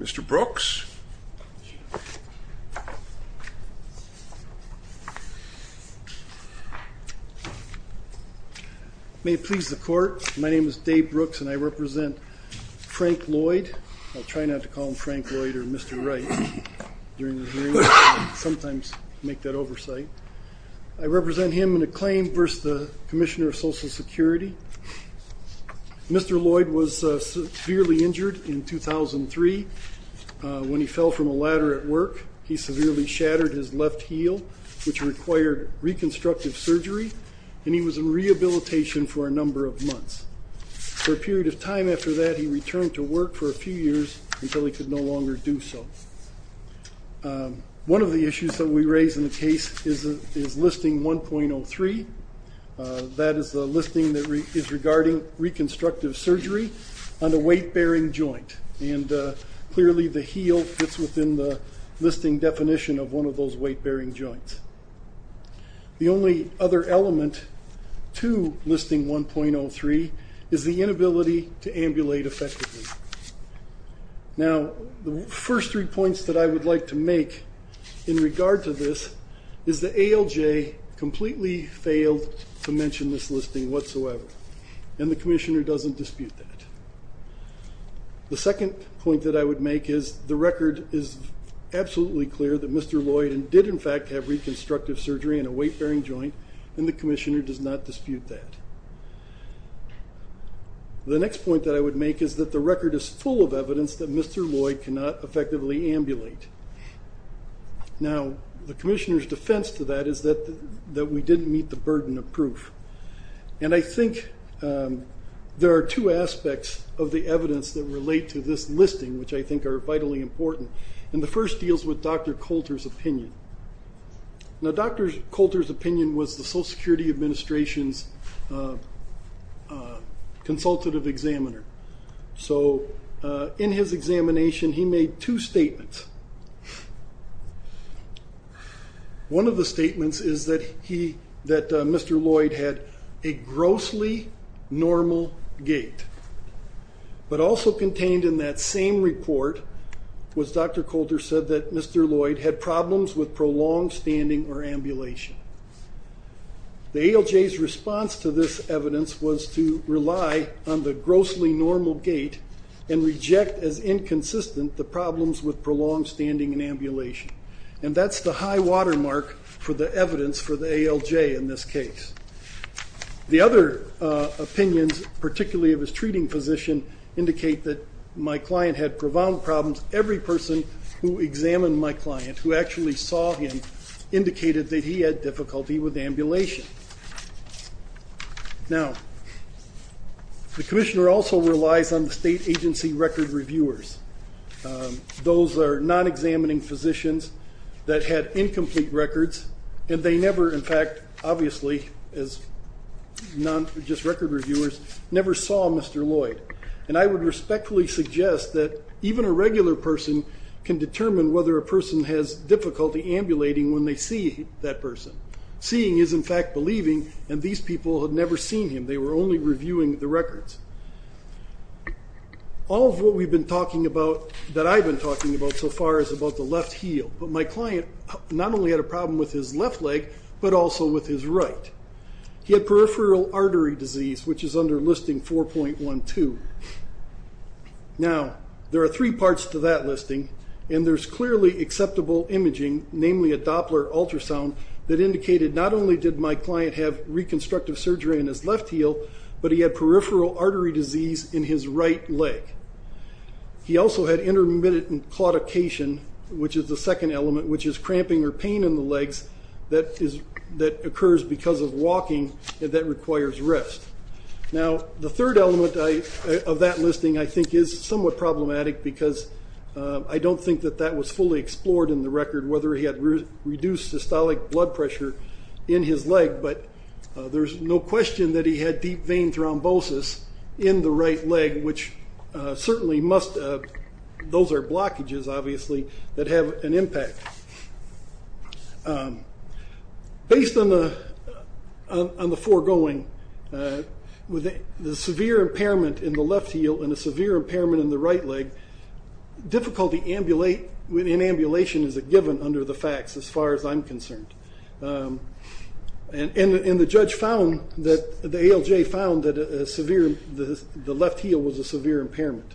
Mr. Brooks May it please the court, my name is Dave Brooks and I represent Frank Lloyd I'll try not to call him Frank Lloyd or Mr. Wright during the hearing I sometimes make that oversight I represent him in a claim versus the Commissioner of Social Security Mr. Lloyd was severely injured in 2003 When he fell from a ladder at work, he severely shattered his left heel which required reconstructive surgery and he was in rehabilitation for a number of months For a period of time after that, he returned to work for a few years until he could no longer do so One of the issues that we raise in the case is listing 1.03 That is the listing that is regarding reconstructive surgery on a weight-bearing joint and clearly the heel fits within the listing definition of one of those weight-bearing joints The only other element to listing 1.03 is the inability to ambulate effectively Now, the first three points that I would like to make in regard to this is that ALJ completely failed to mention this listing whatsoever and the Commissioner doesn't dispute that The second point that I would make is the record is absolutely clear that Mr. Lloyd did in fact have reconstructive surgery on a weight-bearing joint and the Commissioner does not dispute that The next point that I would make is that the record is full of evidence that Mr. Lloyd cannot effectively ambulate Now, the Commissioner's defense to that is that we didn't meet the burden of proof and I think there are two aspects of the evidence that relate to this listing which I think are vitally important and the first deals with Dr. Coulter's opinion Dr. Coulter's opinion was the Social Security Administration's consultative examiner So, in his examination he made two statements One of the statements is that Mr. Lloyd had a grossly normal gait but also contained in that same report was Dr. Coulter said that Mr. Lloyd had problems with prolonged standing or ambulation The ALJ's response to this evidence was to rely on the grossly normal gait and reject as inconsistent the problems with prolonged standing and ambulation and that's the high watermark for the evidence for the ALJ in this case The other opinions, particularly of his treating physician indicate that my client had profound problems Every person who examined my client, who actually saw him indicated that he had difficulty with ambulation Now, the Commissioner also relies on the state agency record reviewers Those are non-examining physicians that had incomplete records and they never, in fact, obviously, as just record reviewers never saw Mr. Lloyd and I would respectfully suggest that even a regular person can determine whether a person has difficulty ambulating when they see that person Seeing is, in fact, believing, and these people had never seen him They were only reviewing the records All of what we've been talking about, that I've been talking about so far is about the left heel, but my client not only had a problem with his left leg but also with his right He had peripheral artery disease, which is under listing 4.12 Now, there are three parts to that listing and there's clearly acceptable imaging, namely a Doppler ultrasound that indicated not only did my client have reconstructive surgery in his left heel but he had peripheral artery disease in his right leg He also had intermittent claudication, which is the second element which is cramping or pain in the legs that occurs because of walking that requires rest Now, the third element of that listing, I think, is somewhat problematic because I don't think that that was fully explored in the record whether he had reduced systolic blood pressure in his leg but there's no question that he had deep vein thrombosis in the right leg Those are blockages, obviously, that have an impact Based on the foregoing, the severe impairment in the left heel and the severe impairment in the right leg difficulty in ambulation is a given under the facts, as far as I'm concerned And the ALJ found that the left heel was a severe impairment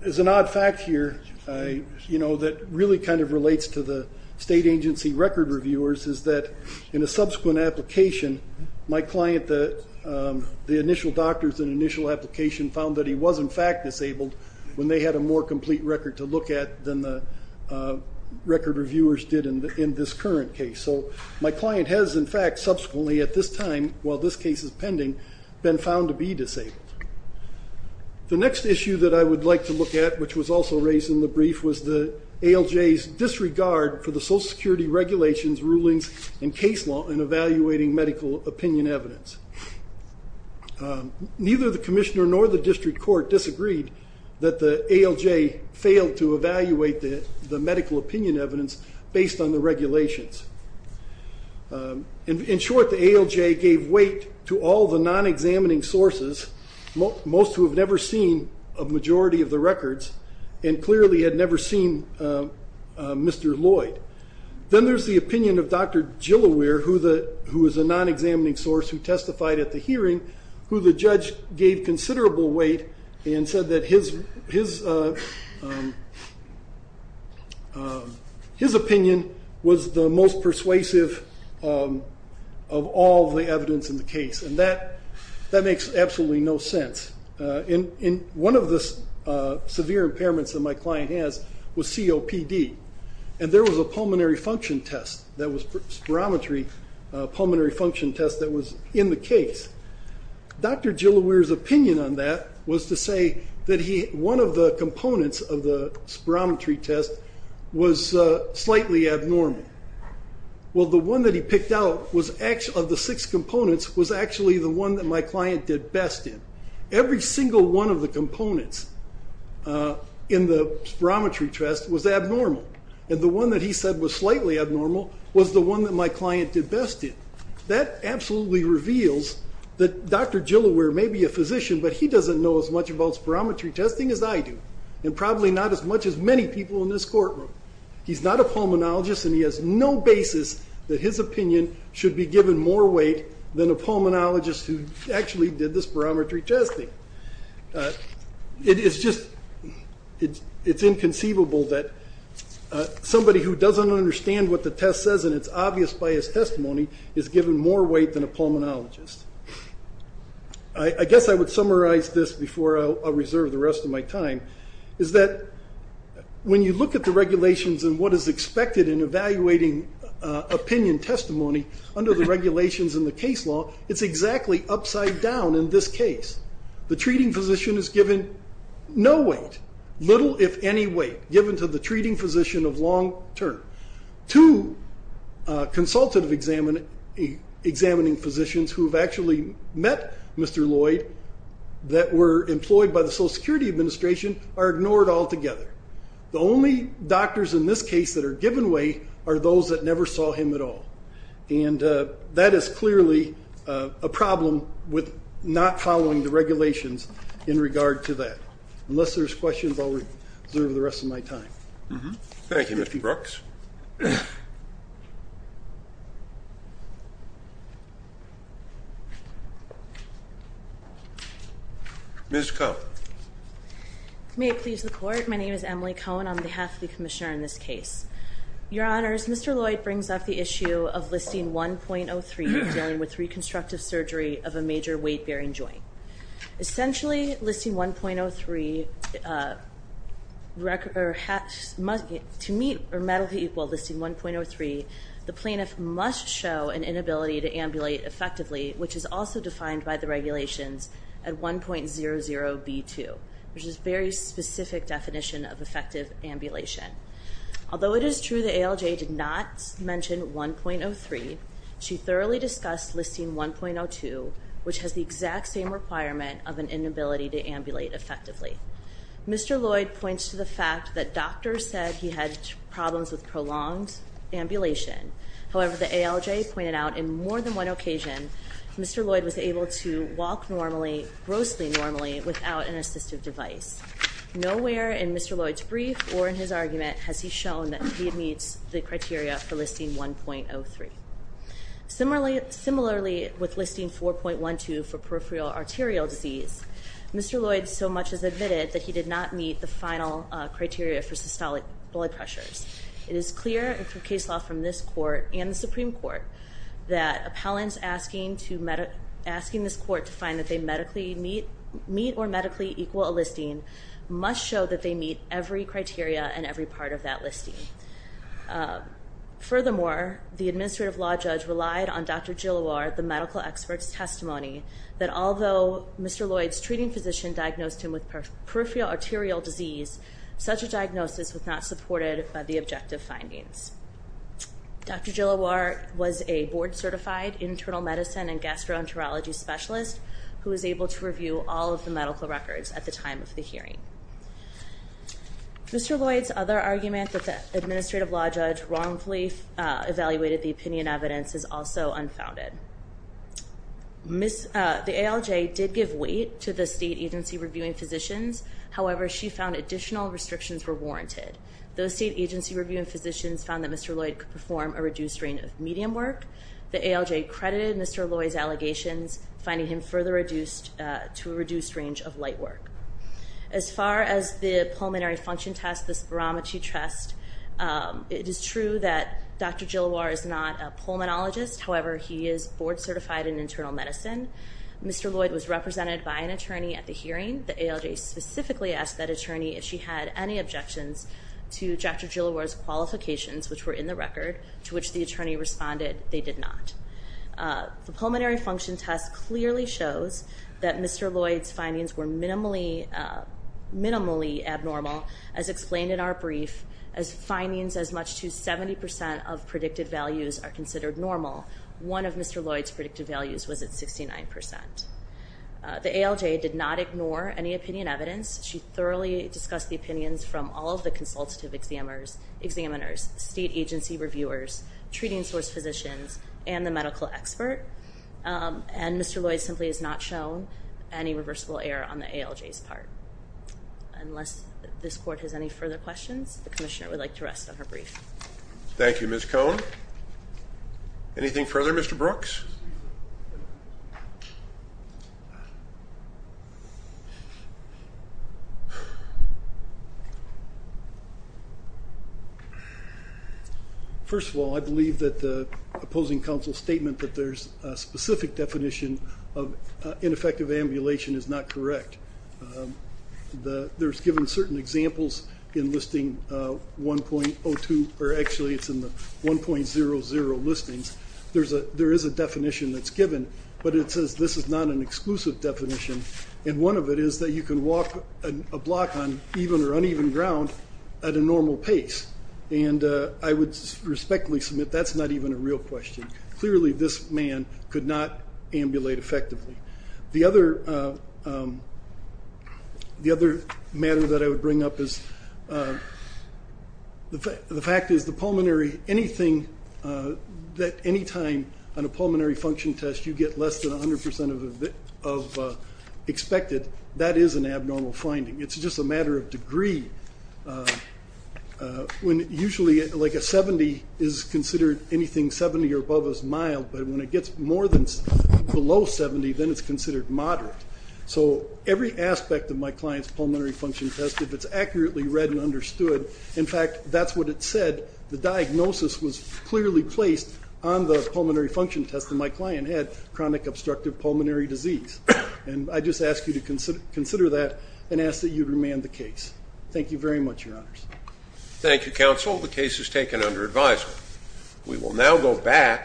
There's an odd fact here that really kind of relates to the state agency record reviewers is that in a subsequent application, my client, the initial doctors in the initial application found that he was, in fact, disabled when they had a more complete record to look at than the record reviewers did in this current case So my client has, in fact, subsequently, at this time, while this case is pending been found to be disabled The next issue that I would like to look at, which was also raised in the brief was the ALJ's disregard for the social security regulations, rulings, and case law in evaluating medical opinion evidence Neither the commissioner nor the district court disagreed that the ALJ failed to evaluate the medical opinion evidence based on the regulations In short, the ALJ gave weight to all the non-examining sources most who have never seen a majority of the records and clearly had never seen Mr. Lloyd Then there's the opinion of Dr. Gillaware, who is a non-examining source who testified at the hearing, who the judge gave considerable weight and said that his opinion was the most persuasive of all the evidence in the case and that makes absolutely no sense One of the severe impairments that my client has was COPD and there was a pulmonary function test, that was spirometry a pulmonary function test that was in the case Dr. Gillaware's opinion on that was to say that one of the components of the spirometry test was slightly abnormal Well, the one that he picked out of the six components was actually the one that my client did best in Every single one of the components in the spirometry test was abnormal and the one that he said was slightly abnormal was the one that my client did best in That absolutely reveals that Dr. Gillaware may be a physician but he doesn't know as much about spirometry testing as I do and probably not as much as many people in this courtroom He's not a pulmonologist and he has no basis that his opinion should be given more weight than a pulmonologist who actually did the spirometry testing It's inconceivable that somebody who doesn't understand what the test says and it's obvious by his testimony is given more weight than a pulmonologist I guess I would summarize this before I reserve the rest of my time is that when you look at the regulations and what is expected in evaluating opinion testimony under the regulations in the case law it's exactly upside down in this case The treating physician is given no weight little if any weight given to the treating physician of long term Two consultative examining physicians who have actually met Mr. Lloyd that were employed by the Social Security Administration are ignored altogether The only doctors in this case that are given weight are those that never saw him at all and that is clearly a problem with not following the regulations in regard to that Unless there's questions, I'll reserve the rest of my time Thank you Mr. Brooks Ms. Cohn May it please the court, my name is Emily Cohn on behalf of the commissioner in this case Your honors, Mr. Lloyd brings up the issue of listing 1.03 dealing with reconstructive surgery of a major weight bearing joint Essentially, listing 1.03 to meet or meddle to equal listing 1.03 the plaintiff must show an inability to ambulate effectively which is also defined by the regulations at 1.00b2 which is a very specific definition of effective ambulation Although it is true that ALJ did not mention 1.03 she thoroughly discussed listing 1.02 which has the exact same requirement of an inability to ambulate effectively Mr. Lloyd points to the fact that doctors said he had problems with prolonged ambulation However, the ALJ pointed out in more than one occasion Mr. Lloyd was able to walk grossly normally without an assistive device Nowhere in Mr. Lloyd's brief or in his argument has he shown that he meets the criteria for listing 1.03 Similarly, with listing 4.12 for peripheral arterial disease Mr. Lloyd so much as admitted that he did not meet the final criteria for systolic blood pressures It is clear through case law from this court and the Supreme Court that appellants asking this court to find that they medically meet or medically equal a listing must show that they meet every criteria and every part of that listing Furthermore, the administrative law judge relied on Dr. Gilloir, the medical expert's testimony that although Mr. Lloyd's treating physician diagnosed him with peripheral arterial disease such a diagnosis was not supported by the objective findings Dr. Gilloir was a board certified internal medicine and gastroenterology specialist who was able to review all of the medical records at the time of the hearing Mr. Lloyd's other argument that the administrative law judge wrongfully evaluated the opinion evidence is also unfounded The ALJ did give weight to the state agency reviewing physicians However, she found additional restrictions were warranted Those state agency reviewing physicians found that Mr. Lloyd could perform a reduced range of medium work The ALJ credited Mr. Lloyd's allegations finding him further reduced to a reduced range of light work As far as the pulmonary function test, the spirometry test It is true that Dr. Gilloir is not a pulmonologist However, he is board certified in internal medicine Mr. Lloyd was represented by an attorney at the hearing The ALJ specifically asked that attorney if she had any objections to Dr. Gilloir's qualifications which were in the record to which the attorney responded they did not The pulmonary function test clearly shows that Mr. Lloyd's findings were minimally abnormal as explained in our brief as findings as much as 70% of predicted values are considered normal One of Mr. Lloyd's predicted values was at 69% The ALJ did not ignore any opinion evidence She thoroughly discussed the opinions from all of the consultative examiners state agency reviewers, treating source physicians, and the medical expert And Mr. Lloyd simply has not shown any reversible error on the ALJ's part Unless this court has any further questions, the commissioner would like to rest on her brief Thank you, Ms. Cohn Anything further, Mr. Brooks? First of all, I believe that the opposing counsel's statement that there's a specific definition of ineffective ambulation is not correct There's given certain examples in listing 1.02, or actually it's in the 1.00 listings There is a definition that's given, but it says this is not an exclusive definition And one of it is that you can walk a block on even or uneven ground at a normal pace And I would respectfully submit that's not even a real question Clearly this man could not ambulate effectively The other matter that I would bring up is The fact is that anytime on a pulmonary function test you get less than 100% of expected That is an abnormal finding. It's just a matter of degree Usually a 70% is considered anything 70% or above as mild But when it gets more than below 70%, then it's considered moderate So every aspect of my client's pulmonary function test, if it's accurately read and understood In fact, that's what it said. The diagnosis was clearly placed on the pulmonary function test And my client had chronic obstructive pulmonary disease And I just ask you to consider that and ask that you remand the case Thank you very much, your honors Thank you, counsel. The case is taken under advisement We will now go back